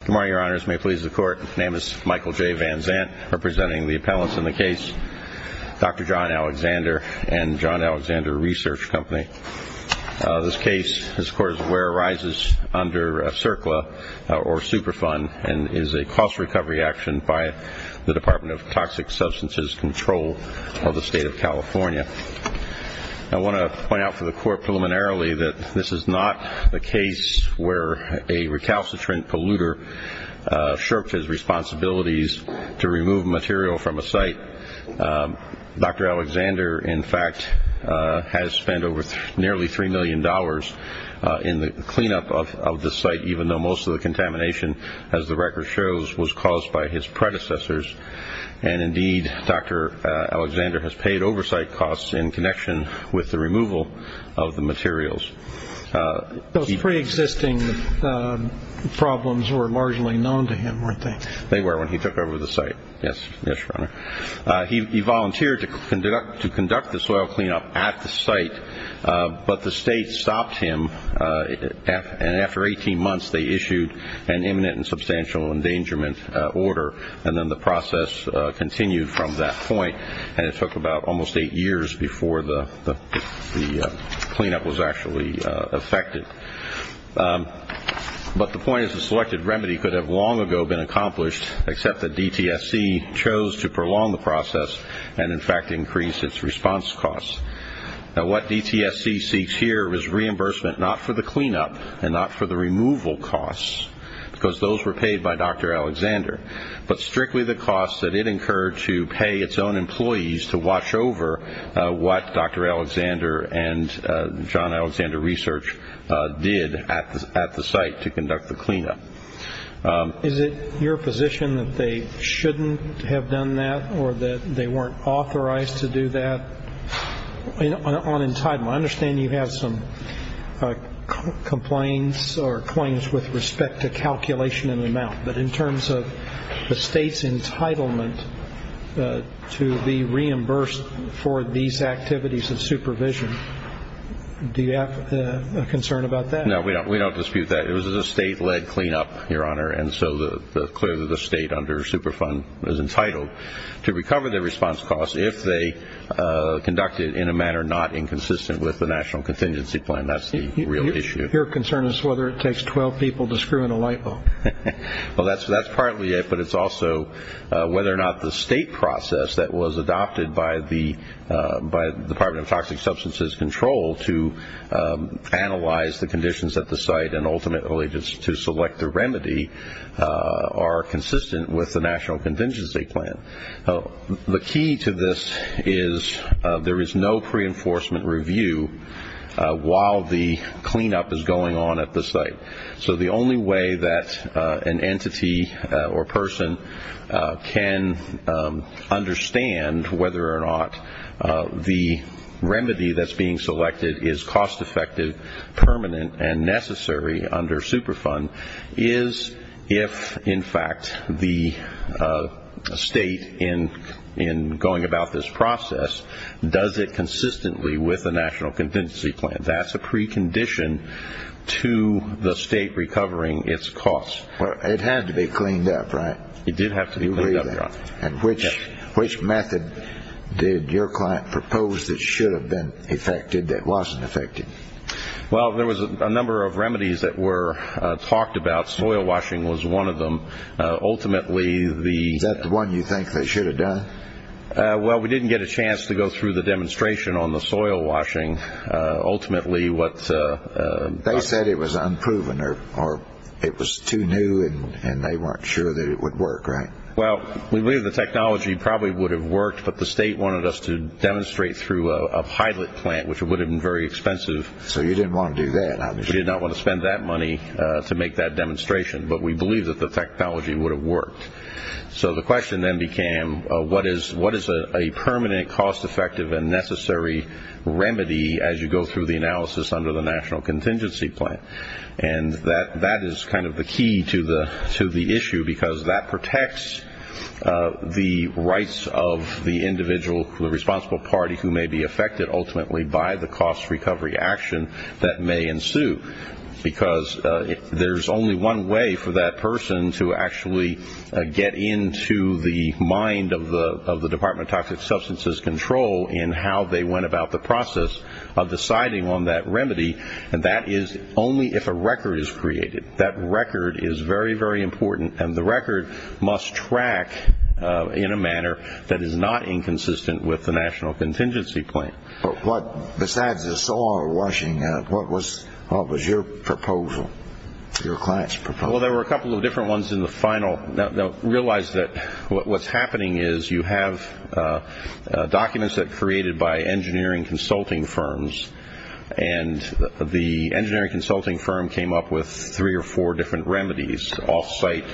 Good morning, your honors. May it please the court. My name is Michael J. Van Zant, representing the appellants in the case, Dr. John Alexander and John Alexander Research Company. This case, as the court is aware, arises under CERCLA, or Superfund, and is a cost recovery action by the Department of Toxic Substances Control of the state of California. I want to point out for the court preliminarily that this is not a case where a recalcitrant polluter shirked his responsibilities to remove material from a site. Dr. Alexander, in fact, has spent over nearly $3 million in the cleanup of this site, even though most of the contamination, as the record shows, was caused by his predecessors. And indeed, Dr. Alexander has paid oversight costs in connection with the removal of the materials. Those preexisting problems were largely known to him, weren't they? They were, when he took over the site. Yes, your honor. He volunteered to conduct the soil cleanup at the site, but the state stopped him, and after 18 months, they issued an imminent and substantial endangerment order, and then the years before the cleanup was actually effected. But the point is, the selected remedy could have long ago been accomplished, except that DTSC chose to prolong the process and, in fact, increase its response costs. Now, what DTSC seeks here is reimbursement not for the cleanup and not for the removal costs, because those were paid by Dr. Alexander, but strictly the costs that it incurred to pay its own employees to watch over what Dr. Alexander and John Alexander Research did at the site to conduct the cleanup. Is it your position that they shouldn't have done that or that they weren't authorized to do that? On entitlement, I understand you have some complaints or claims with respect to calculation and amount, but in terms of the state's entitlement to be reimbursed for these activities of supervision, do you have a concern about that? No, we don't dispute that. It was a state-led cleanup, your honor, and so clearly the state under Superfund was entitled to recover the response costs if they conducted it in a manner not inconsistent with the National Contingency Plan. That's the real issue. Your concern is whether it takes 12 people to screw in the light bulb? Well, that's partly it, but it's also whether or not the state process that was adopted by the Department of Toxic Substances Control to analyze the conditions at the site and ultimately just to select the remedy are consistent with the National Contingency Plan. The key to this is there is no pre-enforcement review while the cleanup is going on at the site. So the only way that an entity or person can understand whether or not the remedy that's being selected is cost-effective, permanent, and necessary under Superfund is if, in fact, the state in going about this process does it consistently with the National Contingency Plan. That's a precondition to the state recovering its costs. Well, it had to be cleaned up, right? It did have to be cleaned up, your honor. And which method did your client propose that should have been effected that wasn't effected? Well, there was a number of remedies that were talked about. Soil washing was one of them. Ultimately, the... Is that the one you think they should have done? Well, we didn't get a chance to go through the demonstration on the soil washing. Ultimately, what... They said it was unproven or it was too new and they weren't sure that it would work, right? Well, we believe the technology probably would have worked, but the state wanted us to demonstrate through a pilot plant, which would have been very expensive. So you didn't want to do that, obviously. We did not want to spend that money to make that demonstration. But we believe that the technology would have worked. So the question then became, what is a permanent, cost-effective and necessary remedy as you go through the analysis under the National Contingency Plan? And that is kind of the key to the issue because that protects the rights of the individual, the responsible party who may be affected ultimately by the cost recovery action that may ensue. Because there's only one way for that person to actually get into the mind of the Department of Toxic Substances Control in how they went about the process of deciding on that remedy, and that is only if a record is created. That record is very, very important and the record must track in a manner that is not inconsistent with the National Contingency Plan. But what... Besides the soil washing, what was your proposal? Your client's proposal? Well, there were a couple of different ones in the final. Now, realize that what's happening is you have documents that are created by engineering consulting firms, and the engineering consulting firm came up with three or four different remedies. Off-site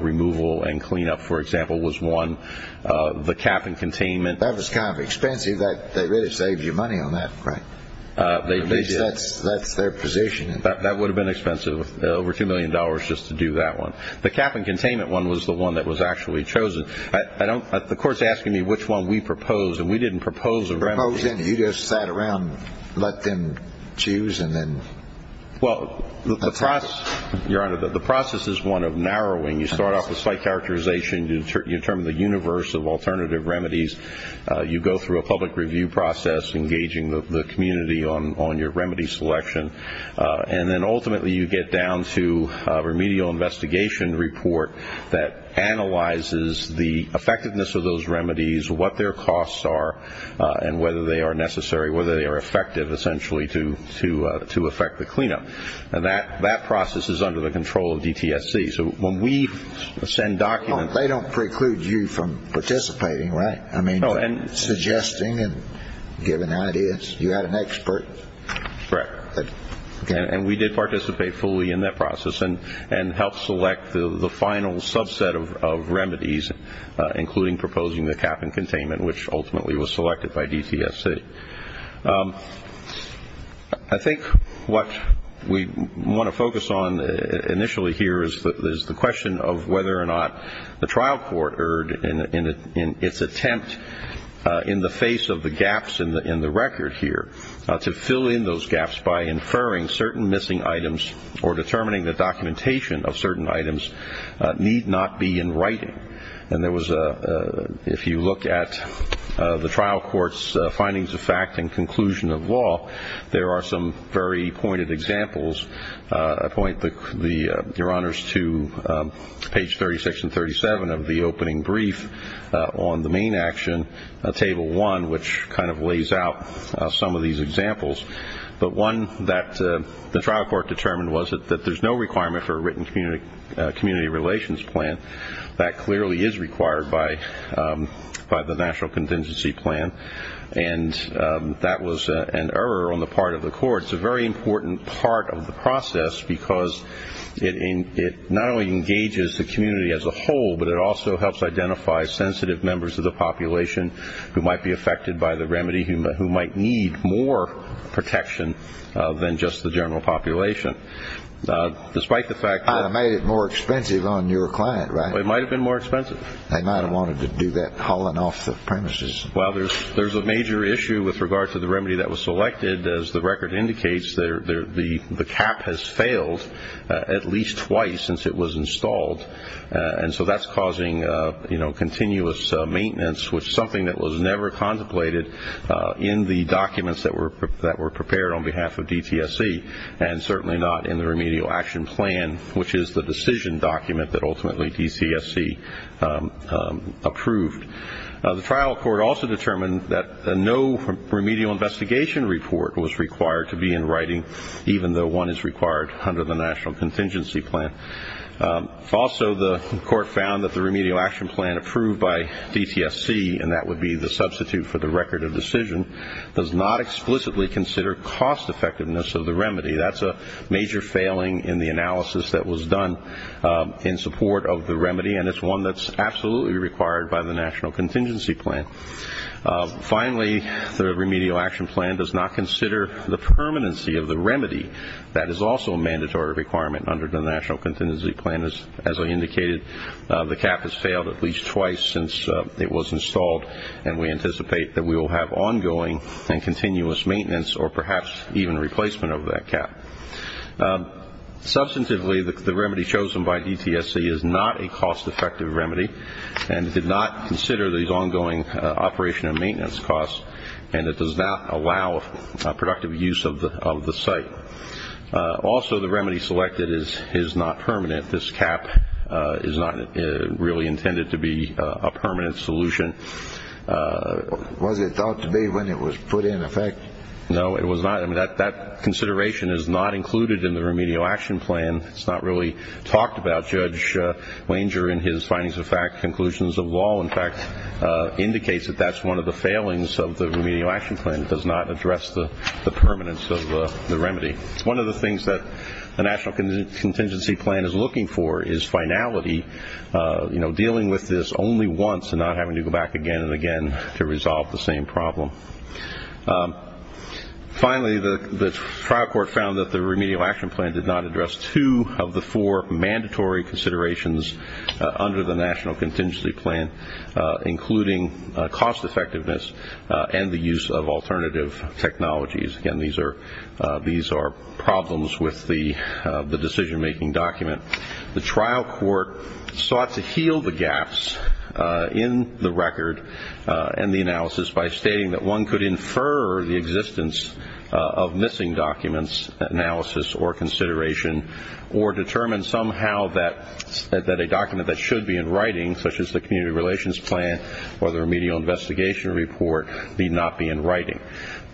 removal and clean-up, for example, was one. The cap and containment... That was kind of expensive. They really saved you money on that, Frank. At least that's their position. That would have been expensive, over $2 million just to do that one. The cap and containment one was the one that was actually chosen. I don't... The court's asking me which one we proposed, and we didn't propose a remedy. You just sat around, let them choose, and then... Well, the process... Your Honor, the process is one of narrowing. You start off with slight characterization. You determine the universe of alternative remedies. You go through a And then ultimately you get down to a remedial investigation report that analyzes the effectiveness of those remedies, what their costs are, and whether they are necessary, whether they are effective, essentially, to effect the clean-up. That process is under the control of DTSC. So when we send documents... They don't preclude you from participating, right? I mean, suggesting and giving ideas. You had an expert. Correct. And we did participate fully in that process and helped select the final subset of remedies, including proposing the cap and containment, which ultimately was selected by DTSC. I think what we want to focus on initially here is the question of whether or not the trial court erred in its attempt, in the face of the gaps in the record here, to fill in those gaps by inferring certain missing items or determining the documentation of certain items need not be in writing. And there was a... If you look at the trial court's findings of fact and conclusion of law, there are some very pointed examples. I point Your Honors to page 36 and 37 of the opening brief on the main action, table 1, which kind of lays out some of these examples. But one that the trial court determined was that there's no requirement for a written community relations plan. That clearly is required by the national contingency plan. And that was an error on the part of the court. It's a very important part of the process because it not only engages the community as a whole, but it also helps identify sensitive members of the population who might be affected by the remedy, who might need more protection than just the general population. Despite the fact that... It might have made it more expensive on your client, right? It might have been more expensive. They might have wanted to do that hauling off the premises. Well, there's a major issue with regard to the remedy that was selected. As the record indicates, the cap has failed at least twice since it was installed. And so that's causing continuous maintenance, which is something that was never contemplated in the documents that were prepared on behalf of DTSC, and certainly not in the remedial action plan, which is the decision document that ultimately DCSC approved. The trial court also determined that no remedial investigation report was required to be in writing, even though one is required under the national contingency plan. Also, the court found that the remedial action plan approved by DTSC, and that would be the substitute for the record of decision, does not explicitly consider cost-effectiveness of the remedy. That's a major failing in the analysis that was done in support of the remedy, and it's one that's absolutely required by the national contingency plan. Finally, the remedial action plan does not consider the permanency of the remedy. That is also a mandatory requirement under the national contingency plan. As I indicated, the cap has failed at least twice since it was installed, and we anticipate that we will have ongoing and continuous maintenance, or perhaps even replacement of that cap. Substantively, the remedy chosen by DTSC is not a cost-effective remedy, and it did not consider these ongoing operation and maintenance costs, and it does not allow productive use of the site. Also, the remedy selected is not permanent. This cap is not really intended to be a permanent solution. Was it thought to be when it was put in effect? No, it was not. That consideration is not included in the remedial action plan. It's not really talked about. Judge Wenger, in his findings of fact, conclusions of law, in fact, indicates that that's one of the failings of the remedial action plan. It does not address the permanence of the remedy. One of the things that the national contingency plan is looking for is finality, you know, dealing with this only once and not having to go back again and again to resolve the same problem. Finally, the trial court found that the remedial action plan did not address two of the four mandatory considerations under the national contingency plan, including cost-effectiveness and the use of alternative technologies. Again, these are problems with the decision-making document. The trial court sought to heal the gaps in the record and the analysis by stating that one could infer the existence of missing documents, analysis or consideration, or determine somehow that a document that should be in writing, such as the community relations plan or the remedial investigation report, need not be in writing.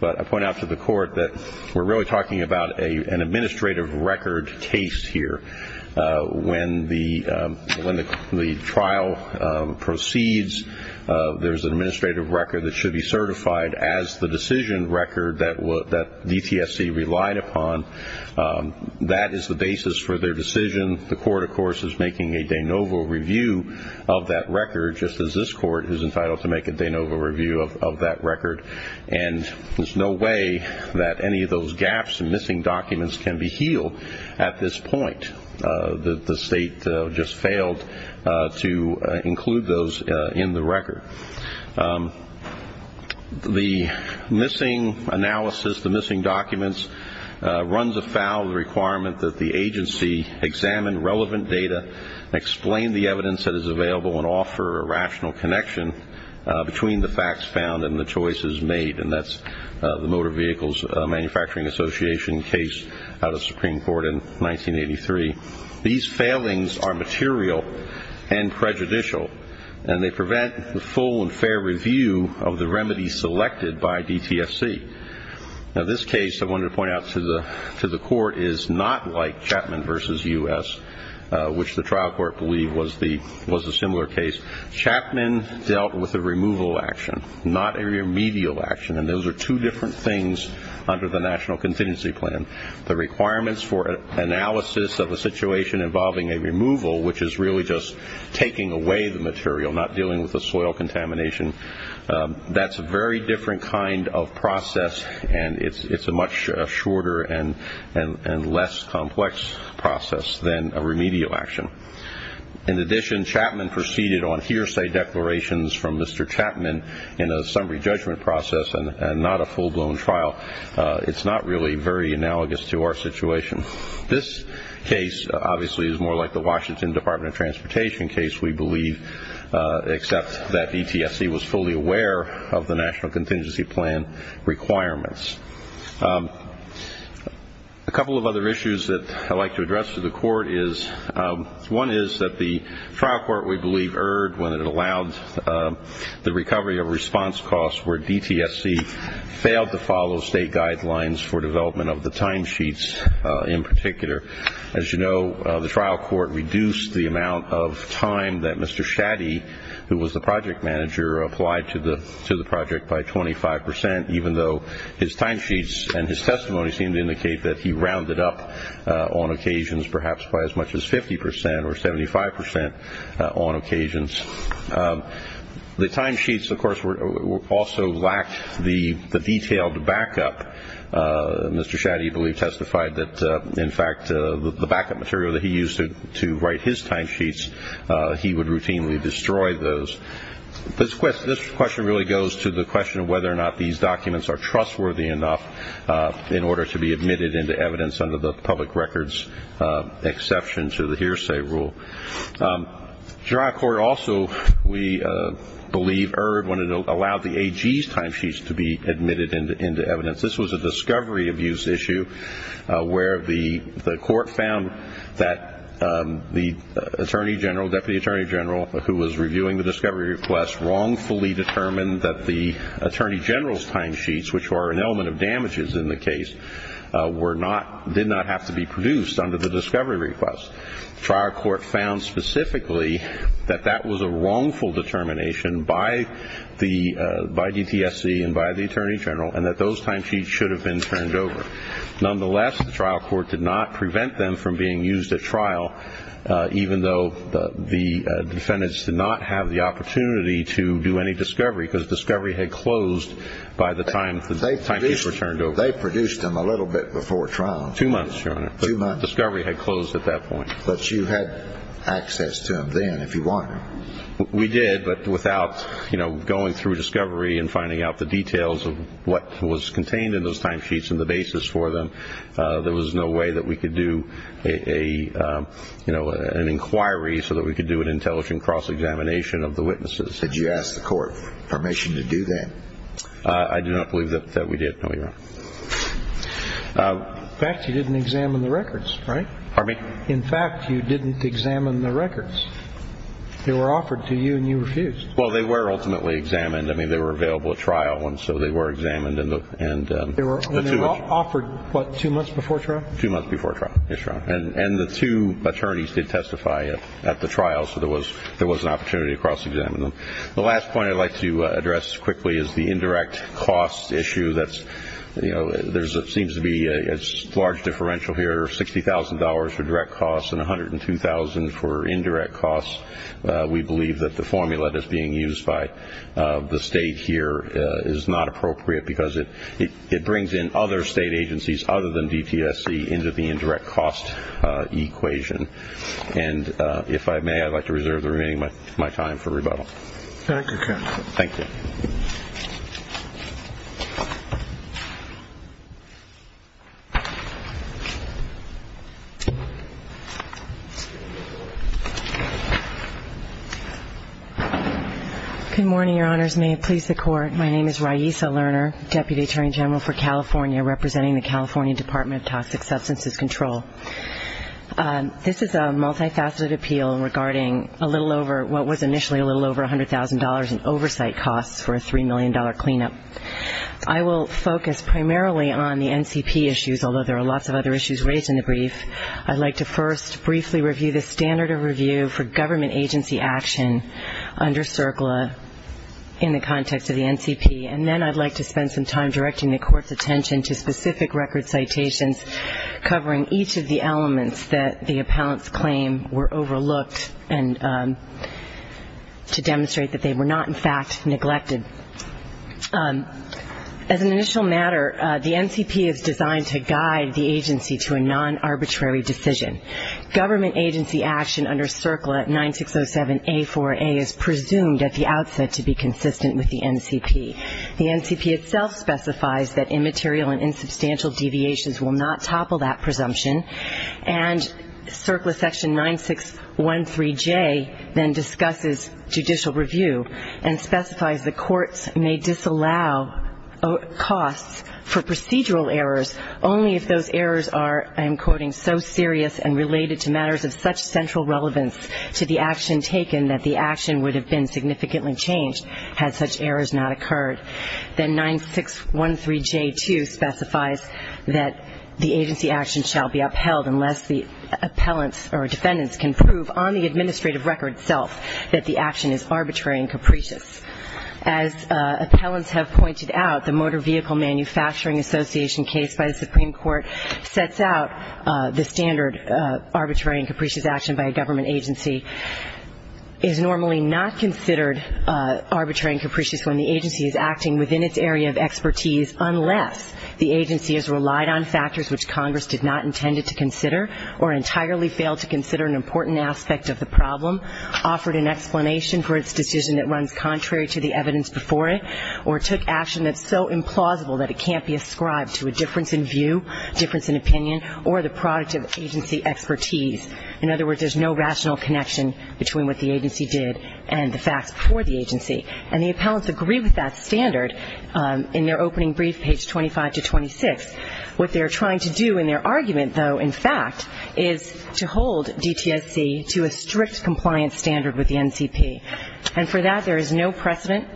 But I point out to the court that we're really talking about an administrative record case here. When the trial proceeds, there's an administrative record that should be certified as the decision record that DTSC relied upon. That is the basis for their decision. The court, of course, is making a de novo review of that record, just as this court is entitled to make a de novo review of that record. And there's no way that any of those gaps and missing documents can be healed at this point. The state just failed to include those in the record. The missing analysis, the missing documents, runs afoul of the requirement that the agency examine relevant data and explain the evidence that is available and offer a rational connection between the facts found and the choices made. And that's the Motor Vehicles Manufacturing Association case out of Supreme Court in 1983. These failings are material and prejudicial and they prevent the full and fair review of the remedy selected by DTSC. This case, I wanted to point out to the court, is not like Chapman v. U.S., which the trial court believed was a similar case. Chapman dealt with a removal action, not a remedial action. And those are two different things under the National Contingency Plan. The requirements for analysis of a situation involving a removal, which is really just taking away the material, not dealing with the soil contamination, that's a very different kind of process and it's a much shorter and less complex process than a remedial action. In addition, Chapman proceeded on hearsay declarations from Mr. Chapman in a summary judgment process and not a full-blown trial. It's not really very analogous to our situation. This case, obviously, is more like the Washington Department of Transportation case, we believe, except that DTSC was fully aware of the National Contingency Plan requirements. A couple of other issues that I'd like to address to the court is, one is that the trial court, we believe, erred when it allowed the recovery of response costs where DTSC failed to follow state guidelines for development of the timesheets in particular. As you know, the trial court reduced the amount of time that Mr. Shaddy, who was the project manager, applied to the project by 25 percent, even though his timesheets and his testimony seem to indicate that he rounded up on occasions perhaps by as much as 50 percent or 75 percent on occasions. The timesheets, of course, also lacked the detailed backup. Mr. Shaddy, we believe, testified that, in fact, the backup material that he used to write his timesheets, he would routinely destroy those. This question really goes to the question of whether or not these documents are trustworthy enough in order to be admitted into evidence under the public records exception to the hearsay rule. The trial court also, we believe, erred when it allowed the AG's timesheets to be admitted into evidence. This was a discovery abuse issue where the court found that the attorney general, deputy attorney general, who was reviewing the discovery request wrongfully determined that the attorney general's timesheets, which were an element of damages in the case, did not have to be produced under the discovery request. The trial court found specifically that that was a wrongful determination by DTSC and by the attorney general and that those timesheets should have been turned over. Nonetheless, the trial court did not prevent them from being used at trial, even though the defendants did not have the opportunity to do any discovery because discovery had closed by the time the timesheets were turned over. They produced them a little bit before trial. Two months, Your Honor. Two months. Discovery had closed at that point. But you had access to them then if you wanted to. We did, but without going through discovery and finding out the details of what was contained in those timesheets and the basis for them, there was no way that we could do an inquiry so that we could do an intelligent cross-examination of the witnesses. Did you ask the court permission to do that? I do not believe that we did. No, you're wrong. In fact, you didn't examine the records, right? Pardon me? In fact, you didn't examine the records. They were offered to you and you refused. Well, they were ultimately examined. I mean, they were available at trial, and so they were examined and the two of them... They were offered, what, two months before trial? Two months before trial, yes, Your Honor. And the two attorneys did testify at the trial, so there was an opportunity to cross-examine them. The last point I'd like to address quickly is the indirect cost issue. There seems to be a large differential here, $60,000 for direct costs and $102,000 for indirect costs. We believe that the formula that's being used by the state here is not appropriate because it brings in other state agencies other than DTSC into the indirect cost equation. And if I may, I'd like to reserve the remaining of my time for rebuttal. Thank you, counsel. Thank you. Good morning, Your Honors. May it please the Court. My name is Raissa Lerner, Deputy Attorney General for California, representing the California Department of Toxic Substances Control. This is a multifaceted appeal regarding what was initially a little over $100,000 in oversight costs for a $3 million cleanup. I will focus primarily on the NCP issues, although there are lots of other issues raised in the brief. I'd like to first briefly review the standard of review for government agency action under CERCLA in the context of the NCP, and then I'd like to spend some time directing the Court's attention to specific record citations covering each of the elements that the appellant's claim were overlooked and to demonstrate that they were not, in fact, neglected. As an initial matter, the NCP is designed to guide the agency to a non-arbitrary decision. Government agency action under CERCLA 9607A4A is presumed at the outset to be consistent with the NCP. The NCP itself specifies that immaterial and insubstantial deviations will not topple that presumption, and CERCLA section 9613J then discusses judicial review and specifies that courts may disallow costs for procedural errors only if those errors are, I am quoting, so serious and related to matters of such central relevance to the action taken that the action would have been significantly changed had such errors not occurred. Then 9613J2 specifies that the agency action shall be upheld unless the appellants or defendants can prove on the administrative record itself that the action is arbitrary and capricious. As appellants have pointed out, the Motor Vehicle Manufacturing Association case by standard, arbitrary and capricious action by a government agency, is normally not considered arbitrary and capricious when the agency is acting within its area of expertise unless the agency has relied on factors which Congress did not intend to consider or entirely failed to consider an important aspect of the problem, offered an explanation for its decision that runs contrary to the evidence before it, or took action that's so implausible that it lacks agency expertise. In other words, there's no rational connection between what the agency did and the facts before the agency. And the appellants agree with that standard in their opening brief, page 25-26. What they're trying to do in their argument, though, in fact, is to hold DTSC to a strict compliance standard with the NCP. And for that there is no precedent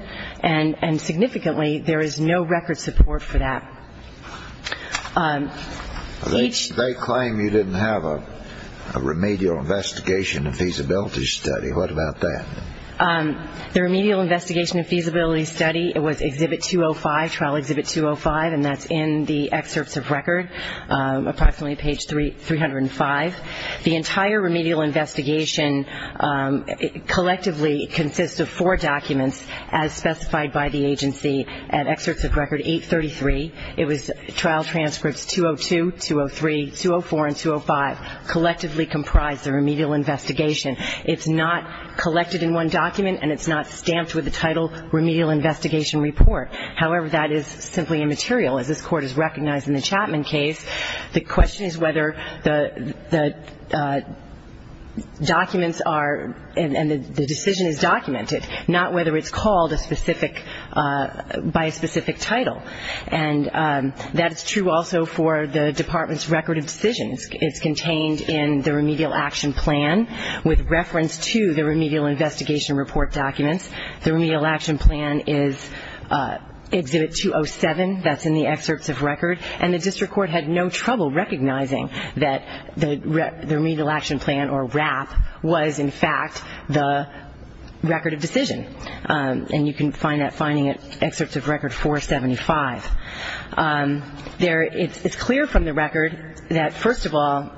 and significantly there is no record support for that. They claim you didn't have a remedial investigation and feasibility study. What about that? The remedial investigation and feasibility study, it was Exhibit 205, Trial Exhibit 205, and that's in the excerpts of record, approximately page 305. The entire remedial investigation collectively consists of four documents as specified by the agency at excerpts of record 833. It was Trial Transcripts 202, 203, 204, and 205, collectively comprised the remedial investigation. It's not collected in one document, and it's not stamped with the title Remedial Investigation Report. However, that is simply immaterial. As this Court has recognized in the Chapman case, the question is whether the documents are, and the decision is documented, not whether it's called a specific, by a specific title. And that's true also for the Department's record of decisions. It's contained in the Remedial Action Plan with reference to the Remedial Investigation Report documents. The Remedial Action Plan is Exhibit 207. That's in the excerpts of record. And the District Court had no trouble recognizing that the record of decision, and you can find that finding at excerpts of record 475. It's clear from the record that, first of all,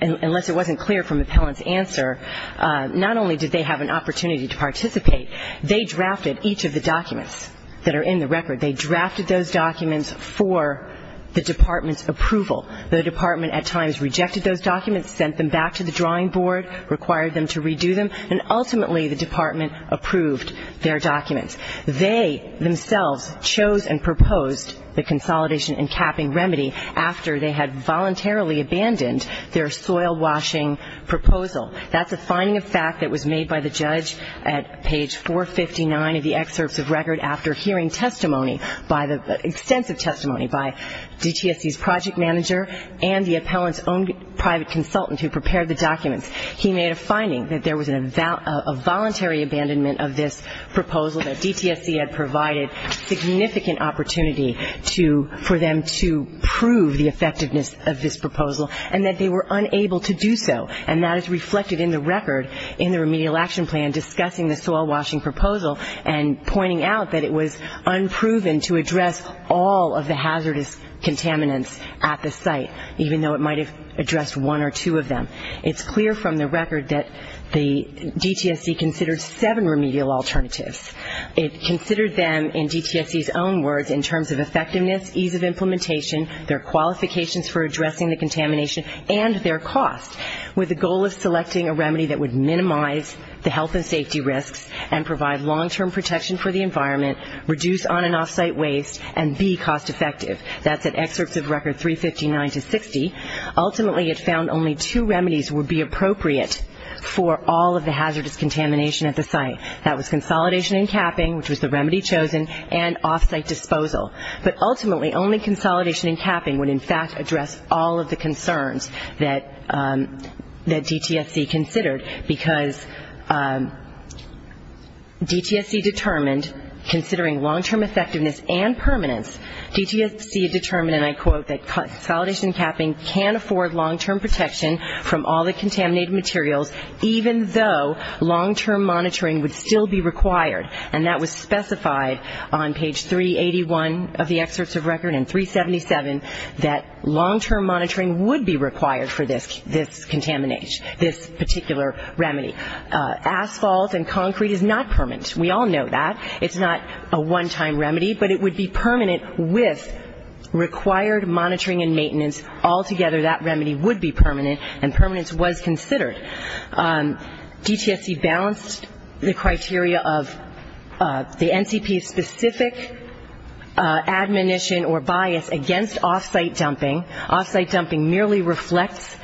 unless it wasn't clear from the appellant's answer, not only did they have an opportunity to participate, they drafted each of the documents that are in the record. They drafted those documents for the Department's approval. The Department at times rejected those documents, sent them back to the drawing board, required them to redo them, and ultimately the Department approved their documents. They themselves chose and proposed the consolidation and capping remedy after they had voluntarily abandoned their soil-washing proposal. That's a finding of fact that was made by the judge at page 459 of the excerpts of record after hearing testimony, extensive testimony by DTSC's project manager and the appellant's own private consultant who prepared the documents. He made a finding that there was a voluntary abandonment of this proposal, that DTSC had provided significant opportunity for them to prove the effectiveness of this proposal, and that they were unable to do so. And that is reflected in the record in the Remedial Action Plan discussing the soil-washing proposal and pointing out that it was unproven to address all of the hazardous contaminants at the site, even though it might have addressed one or two of them. It's clear from the record that DTSC considered seven remedial alternatives. It considered them, in DTSC's own words, in terms of effectiveness, ease of implementation, their qualifications for addressing the contamination, and their cost, with the goal of selecting a remedy that would cover the environment, reduce on- and off-site waste, and be cost-effective. That's at excerpts of record 359 to 60. Ultimately, it found only two remedies would be appropriate for all of the hazardous contamination at the site. That was consolidation and capping, which was the remedy chosen, and off-site disposal. But ultimately, only consolidation and capping would, in fact, address all of the concerns that DTSC considered, because DTSC determined that the remedial alternatives, considering long-term effectiveness and permanence, DTSC determined, and I quote, that consolidation and capping can afford long-term protection from all the contaminated materials, even though long-term monitoring would still be required. And that was specified on page 381 of the excerpts of record and 377, that long-term monitoring would be required for this contaminate, this particular remedy. Asphalt and concrete is not permanent. We all know that. It's not a one-time remedy, but it would be permanent with required monitoring and maintenance. Altogether, that remedy would be permanent, and permanence was considered. DTSC balanced the criteria of the NCP's specific admonition or bias against off-site dumping. Off-site dumping merely reflects,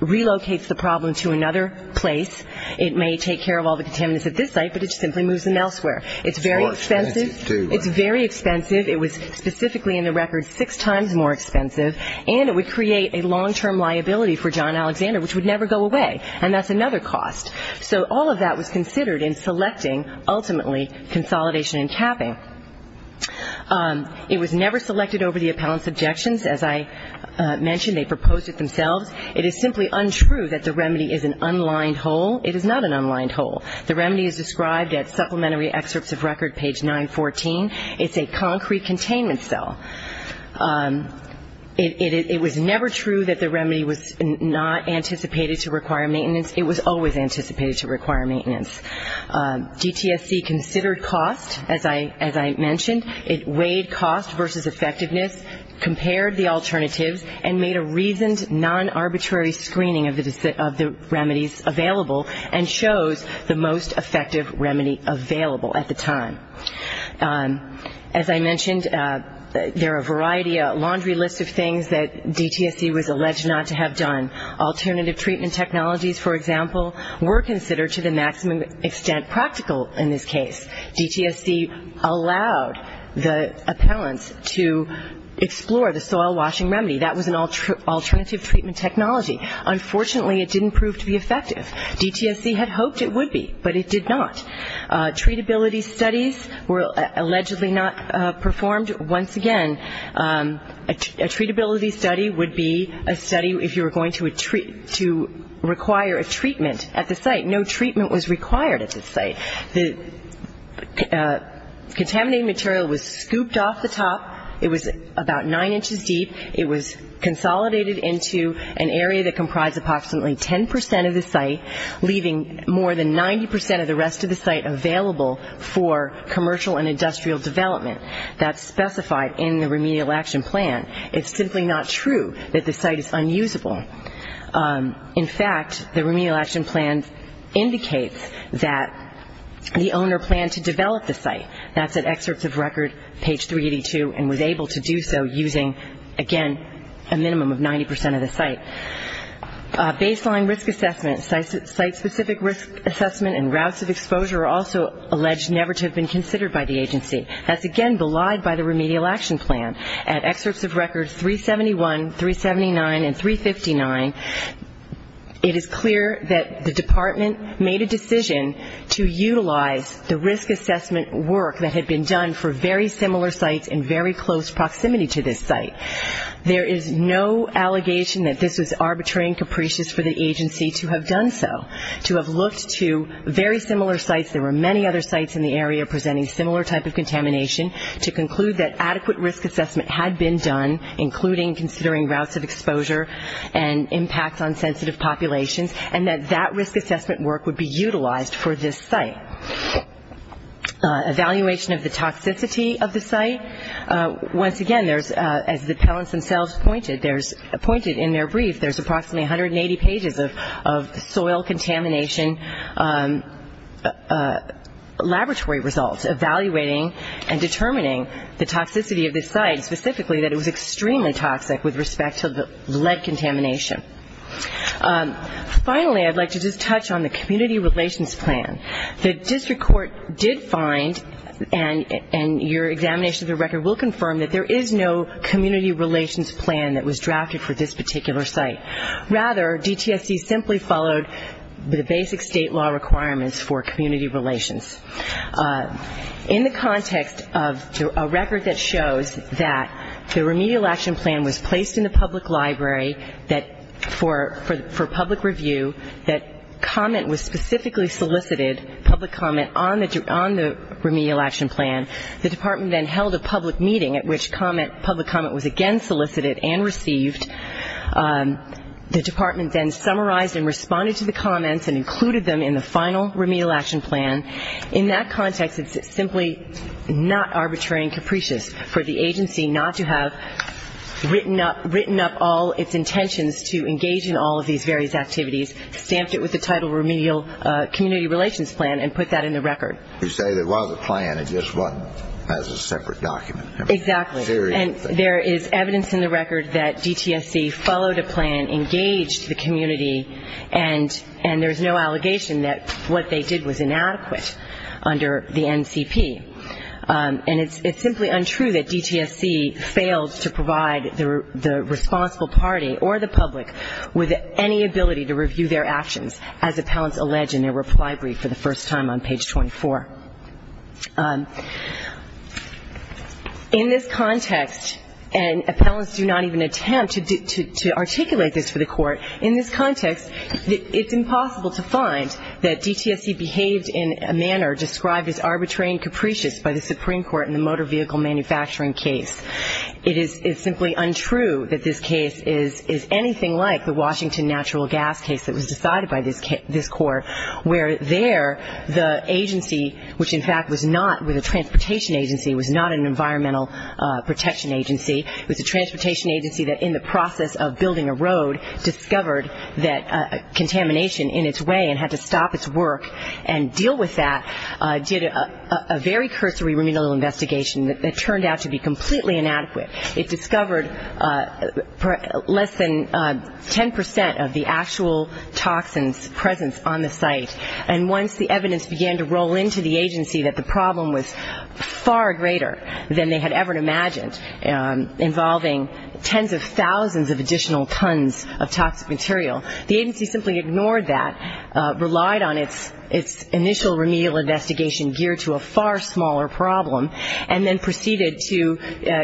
relocates the problem to another place. It may take care of all the contaminants at this site, but it simply moves them elsewhere. It's very expensive. It's very expensive. It was specifically in the record six times more expensive, and it would create a long-term liability for John Alexander, which would never go away, and that's another cost. So all of that was considered in selecting, ultimately, consolidation and capping. It was never selected over the appellant's objections. As I mentioned, they proposed it themselves. It is simply untrue that the remedy is an unlined hole. It is not an unlined hole. The remedy is described at supplementary excerpts of record, page 914. It's a concrete containment cell. It was never true that the remedy was not anticipated to require maintenance. It was always anticipated to require maintenance. DTSC considered cost, as I mentioned. It weighed cost versus effectiveness, compared the alternatives, and made a reasoned, non-arbitrary screening of the remedies available, and chose the most effective remedy available at the time. As I mentioned, there are a variety, a laundry list of things that DTSC was alleged not to have done. Alternative treatment technologies, for example, were considered to the maximum extent practical in this case. DTSC allowed the remedy. That was an alternative treatment technology. Unfortunately, it didn't prove to be effective. DTSC had hoped it would be, but it did not. Treatability studies were allegedly not performed. Once again, a treatability study would be a study if you were going to require a treatment at the site. No treatment was required at the site. The contaminated material was treated. It was consolidated into an area that comprised approximately 10% of the site, leaving more than 90% of the rest of the site available for commercial and industrial development. That's specified in the remedial action plan. It's simply not true that the site is unusable. In fact, the remedial action plan indicates that the owner planned to develop the site. That's at excerpts of record, page 382, and was able to do so using, again, a minimum of 90% of the site. Baseline risk assessment, site-specific risk assessment and routes of exposure are also alleged never to have been considered by the agency. That's, again, belied by the remedial action plan. At excerpts of record 371, 379, and 359, it is clear that the site is unusable. There is no allegation that this was arbitrary and capricious for the agency to have done so, to have looked to very similar sites. There were many other sites in the area presenting similar type of contamination, to conclude that adequate risk assessment had been done, including considering routes of exposure and impacts on sensitive populations, and that that risk assessment work would be utilized for this site. Evaluation of the site, again, is a question of the toxicity of the site. Once again, there's, as the appellants themselves pointed, there's, pointed in their brief, there's approximately 180 pages of soil contamination laboratory results evaluating and determining the toxicity of this site, specifically that it was extremely toxic with respect to the lead contamination. Finally, I'd like to just touch on the community relations plan. The district court did find, and your examination of the record will confirm, that there is no community relations plan that was drafted for this particular site. Rather, DTSC simply followed the basic state law requirements for community relations. In the context of a record that shows that the remedial action plan was placed in the district court, public comment was specifically solicited, public comment on the remedial action plan. The department then held a public meeting at which public comment was again solicited and received. The department then summarized and responded to the comments and included them in the final remedial action plan. In that context, it's simply not arbitrary and capricious for the agency not to have written up all its intentions to engage in all of these various activities, stamped it with the title remedial community relations plan and put that in the record. You say there was a plan, it just wasn't as a separate document. Exactly. And there is evidence in the record that DTSC followed a plan, engaged the community, and there's no allegation that what they did was inadequate under the NCP. And it's simply untrue that DTSC failed to provide the responsible party or the public with any ability to review their actions as appellants allege in their reply brief for the first time on page 24. In this context, and appellants do not even attempt to articulate this for the court, in this context, it's impossible to find that DTSC behaved in a manner described as arbitrary and capricious by the Supreme Court in the motor vehicle manufacturing case. It is simply untrue that this case is anything like the Washington natural gas case that was decided by this court, where there the agency, which in fact was not, was a transportation agency, was not an environmental protection agency. It was a transportation agency that in the process of building a road discovered that contamination in its way and had to stop its work and deal with that, did a very cursory remedial investigation that turned out to be completely inadequate. It discovered less than 10 percent of the actual toxins' presence on the site. And once the evidence began to roll into the agency that the problem was far greater than they had ever imagined, involving tens of thousands of additional tons of toxic material, the agency simply ignored that, relied on its initial remedial investigation geared to a far smaller problem, and then proceeded to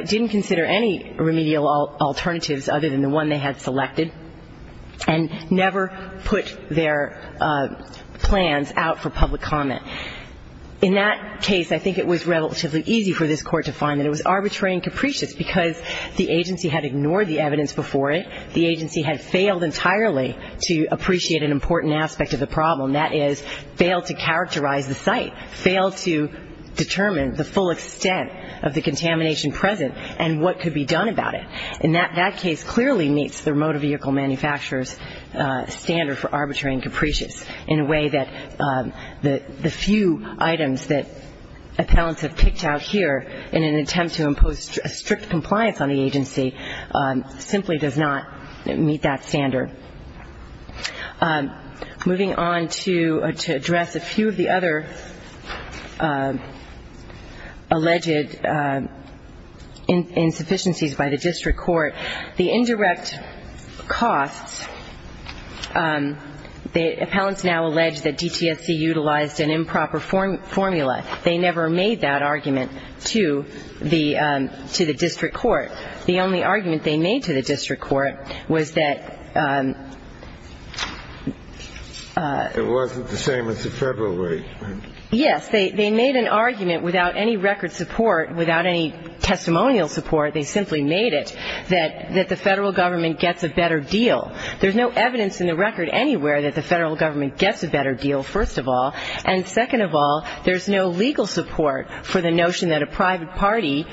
didn't consider any remedial alternatives other than the one they had selected, and never put their plans out for public comment. In that case, I think it was relatively easy for this court to find that it was arbitrary and capricious, because the agency had ignored the evidence before it, the agency had failed entirely to appreciate an important aspect of the problem, that is, failed to characterize the site, failed to determine the full extent of the contamination present and what could be done about it. And that case clearly meets the remote vehicle manufacturer's standard for arbitrary and capricious in a way that the few items that appellants have picked out here in an attempt to impose strict compliance on the agency simply does not meet that standard. Moving on to address a few of the other alleged insufficiencies by the district court, the indirect costs, the appellants now allege that DTSC utilized an improper formula. They never made that argument to the district court. The only argument they made to the district court was that the federal government gets a better deal. And, second of all, there's no legal support for the notion that a private party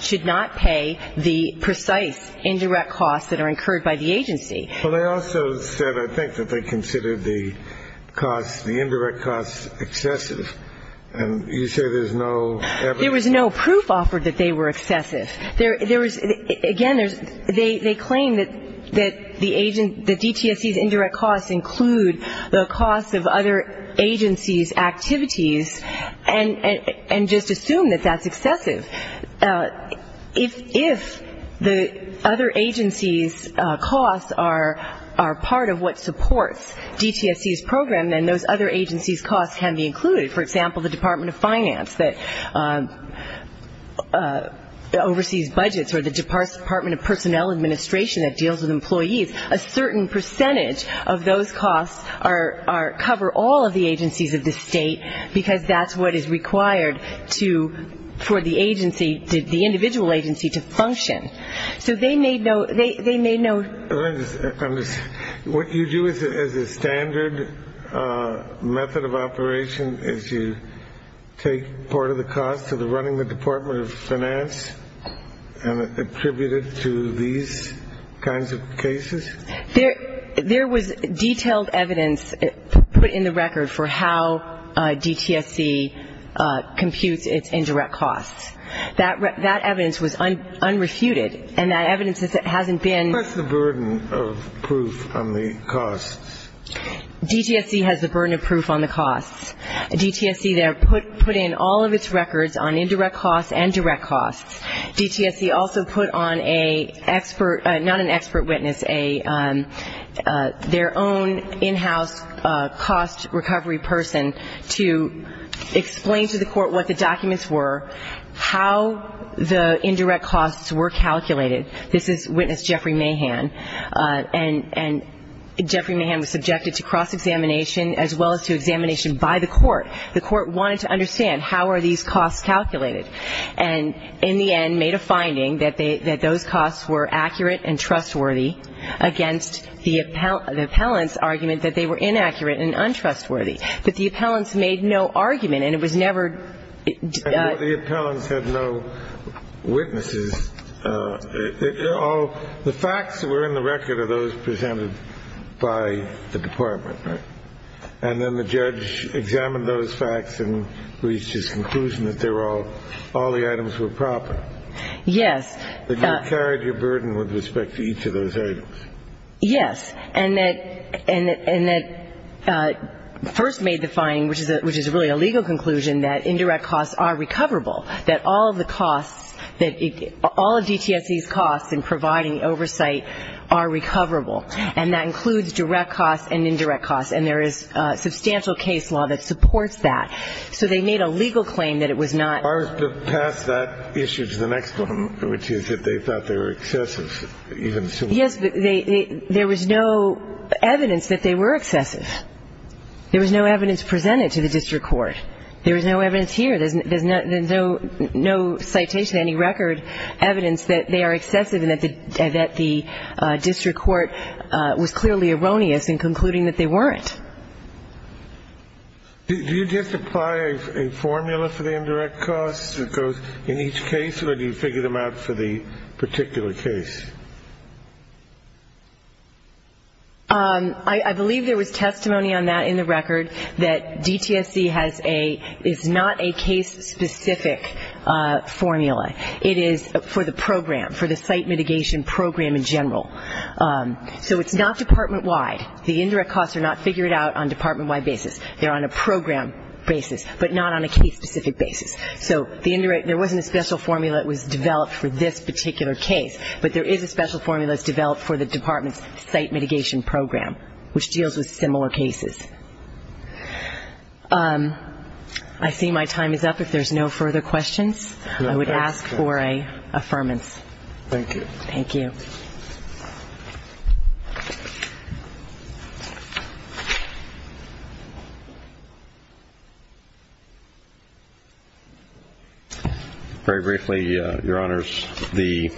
should not pay the precise, indirect costs that are incurred by the agency. And, third of all, there's no legal support for the notion that a private party should not pay the precise, indirect costs that are incurred by the agency. There was no proof offered that they were excessive. Again, they claim that DTSC's indirect costs include the costs of other agencies' activities, and just assume that that's excessive. If the other agencies' costs are, let's say, $1.5 million, that's part of what supports DTSC's program, then those other agencies' costs can be included. For example, the Department of Finance that oversees budgets, or the Department of Personnel Administration that deals with employees, a certain percentage of those costs cover all of the agencies of the state, because that's what is required for the agency, the individual agency, to function. So they made no, they made no... What you do as a standard method of operation is you take part of the costs of running the Department of Finance and attribute it to these kinds of cases? There was detailed evidence put in the record for how DTSC computes its indirect costs. That evidence was unrefuted, and that evidence hasn't been... What's the burden of proof on the costs? DTSC has the burden of proof on the costs. DTSC put in all of its records on indirect costs and direct costs. DTSC also put on a expert, not an expert witness, their own in-house cost recovery person to explain to the court what the documents were, how the indirect costs were calculated. This is witness Jeffrey Mahan, and Jeffrey Mahan was subjected to cross-examination, as well as to examination by the court. The court wanted to understand how are these costs calculated, and in the end made a finding that those costs were accurate and trustworthy against the appellant's argument that they were inaccurate and untrustworthy. But the appellant's made no argument, and it was never... The facts that were in the record are those presented by the department, right? And then the judge examined those facts and reached his conclusion that they were all, all the items were proper. Yes. That you carried your burden with respect to each of those items. Yes. And that first made the finding, which is really a legal conclusion, that indirect costs are recoverable, that all of the costs, all of DTSC's costs in providing oversight are recoverable. And that includes direct costs and indirect costs, and there is substantial case law that supports that. So they made a legal claim that it was not... Are to pass that issue to the next one, which is that they thought they were excessive, even so... Yes, but there was no evidence that they were excessive. There was no evidence presented to the district court. There was no evidence here. There's no citation, any record, evidence that they are excessive and that the district court was clearly erroneous in concluding that they weren't. Do you just apply a formula for the indirect costs that goes in each case, or do you figure them out for the particular case? I believe there was testimony on that in the record, that DTSC has a, is not a case-specific formula. It is for the program, for the site mitigation program in general. So it's not department-wide. The indirect costs are not figured out on department-wide basis. They're on a program basis, but not on a case-specific basis. So the indirect, there wasn't a special formula that was developed for this particular case, but there is a special formula that's developed for the department's site mitigation program, which deals with similar cases. I see my time is up. If there's no further questions, I would ask for an affirmance. Thank you. Very briefly, Your Honors, the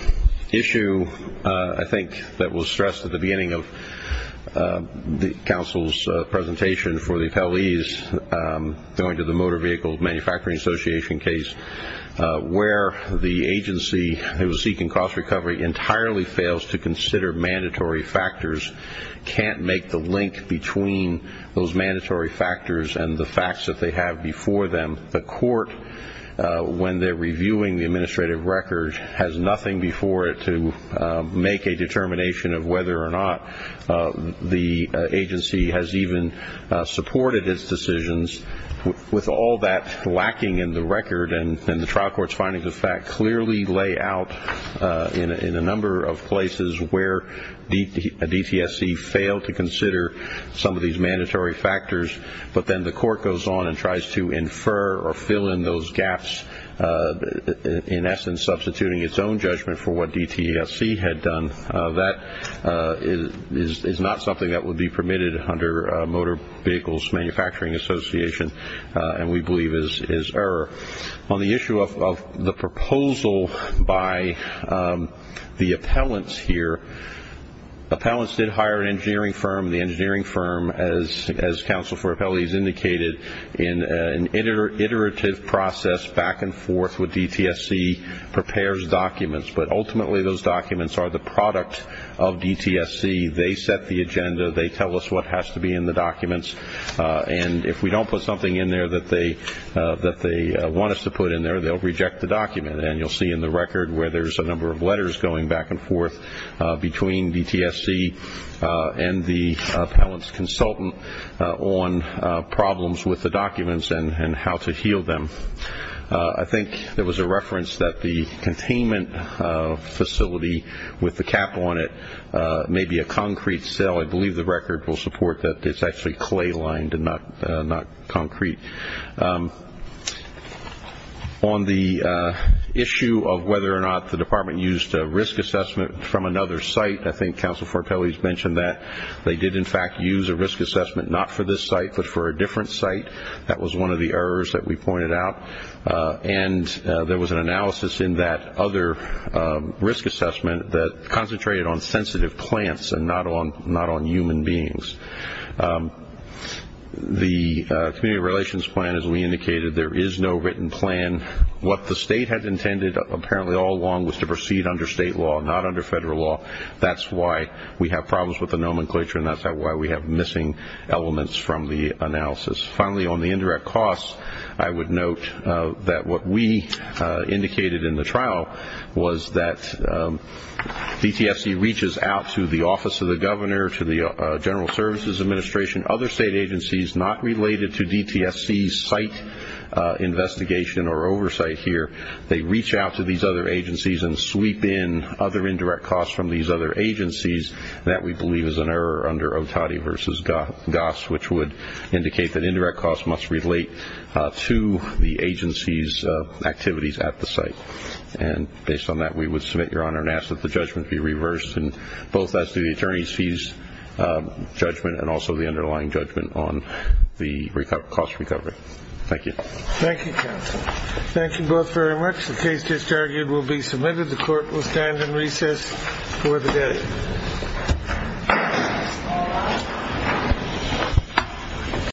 issue I think that was stressed at the beginning of the Council's presentation for the appellees going to the Motor Vehicle Manufacturing Association case, where the agency was seeking cost recovery entirely from the agency. And the agency fails to consider mandatory factors, can't make the link between those mandatory factors and the facts that they have before them. The court, when they're reviewing the administrative record, has nothing before it to make a determination of whether or not the agency has even supported its decisions. With all that lacking in the record, and the trial court's findings of that clearly lay out in a number of places where a DTSC failed to consider some of these mandatory factors, but then the court goes on and tries to infer or fill in those gaps, in essence, substituting its own judgment for what DTSC had done. That is not something that would be permitted under Motor Vehicle Manufacturing Association, and we believe is error. On the issue of the proposal by the appellants here, appellants did hire an engineering firm. The engineering firm, as counsel for appellees indicated, in an iterative process back and forth with DTSC, prepares documents. But ultimately those documents are the product of DTSC. They set the agenda. They tell us what has to be in the documents. And if we don't put something in there that they want us to put in there, they'll reject the document. And you'll see in the record where there's a number of letters going back and forth between DTSC and the appellant's consultant on problems with the documents and how to heal them. I think there was a reference that the containment facility with the cap on it may be a concrete cell. I believe the record will support that it's actually clay lined and not concrete. On the issue of whether or not the department used a risk assessment from another site, I think counsel for appellees mentioned that they did, in fact, use a risk assessment, not for this site, but for a different site. That was one of the errors that we pointed out. And there was an analysis in that other risk assessment that concentrated on sensitive plants and not on human beings. The community relations plan, as we indicated, there is no written plan. What the state had intended apparently all along was to proceed under state law, not under federal law. That's why we have problems with the nomenclature, and that's why we have missing elements from the analysis. Finally, on the indirect costs, I would note that what we indicated in the trial was that DTSC reaches out to the Office of the Governor, to the General Services Administration, other state agencies not related to DTSC's site investigation or oversight here. They reach out to these other agencies and sweep in other indirect costs from these other agencies that we believe is an error under OTADI versus GOSS, which would indicate that indirect costs must relate to the agency's activities at the site. Based on that, we would submit, Your Honor, and ask that the judgment be reversed, both as to the attorney's fees judgment and also the underlying judgment on the cost recovery. Thank you.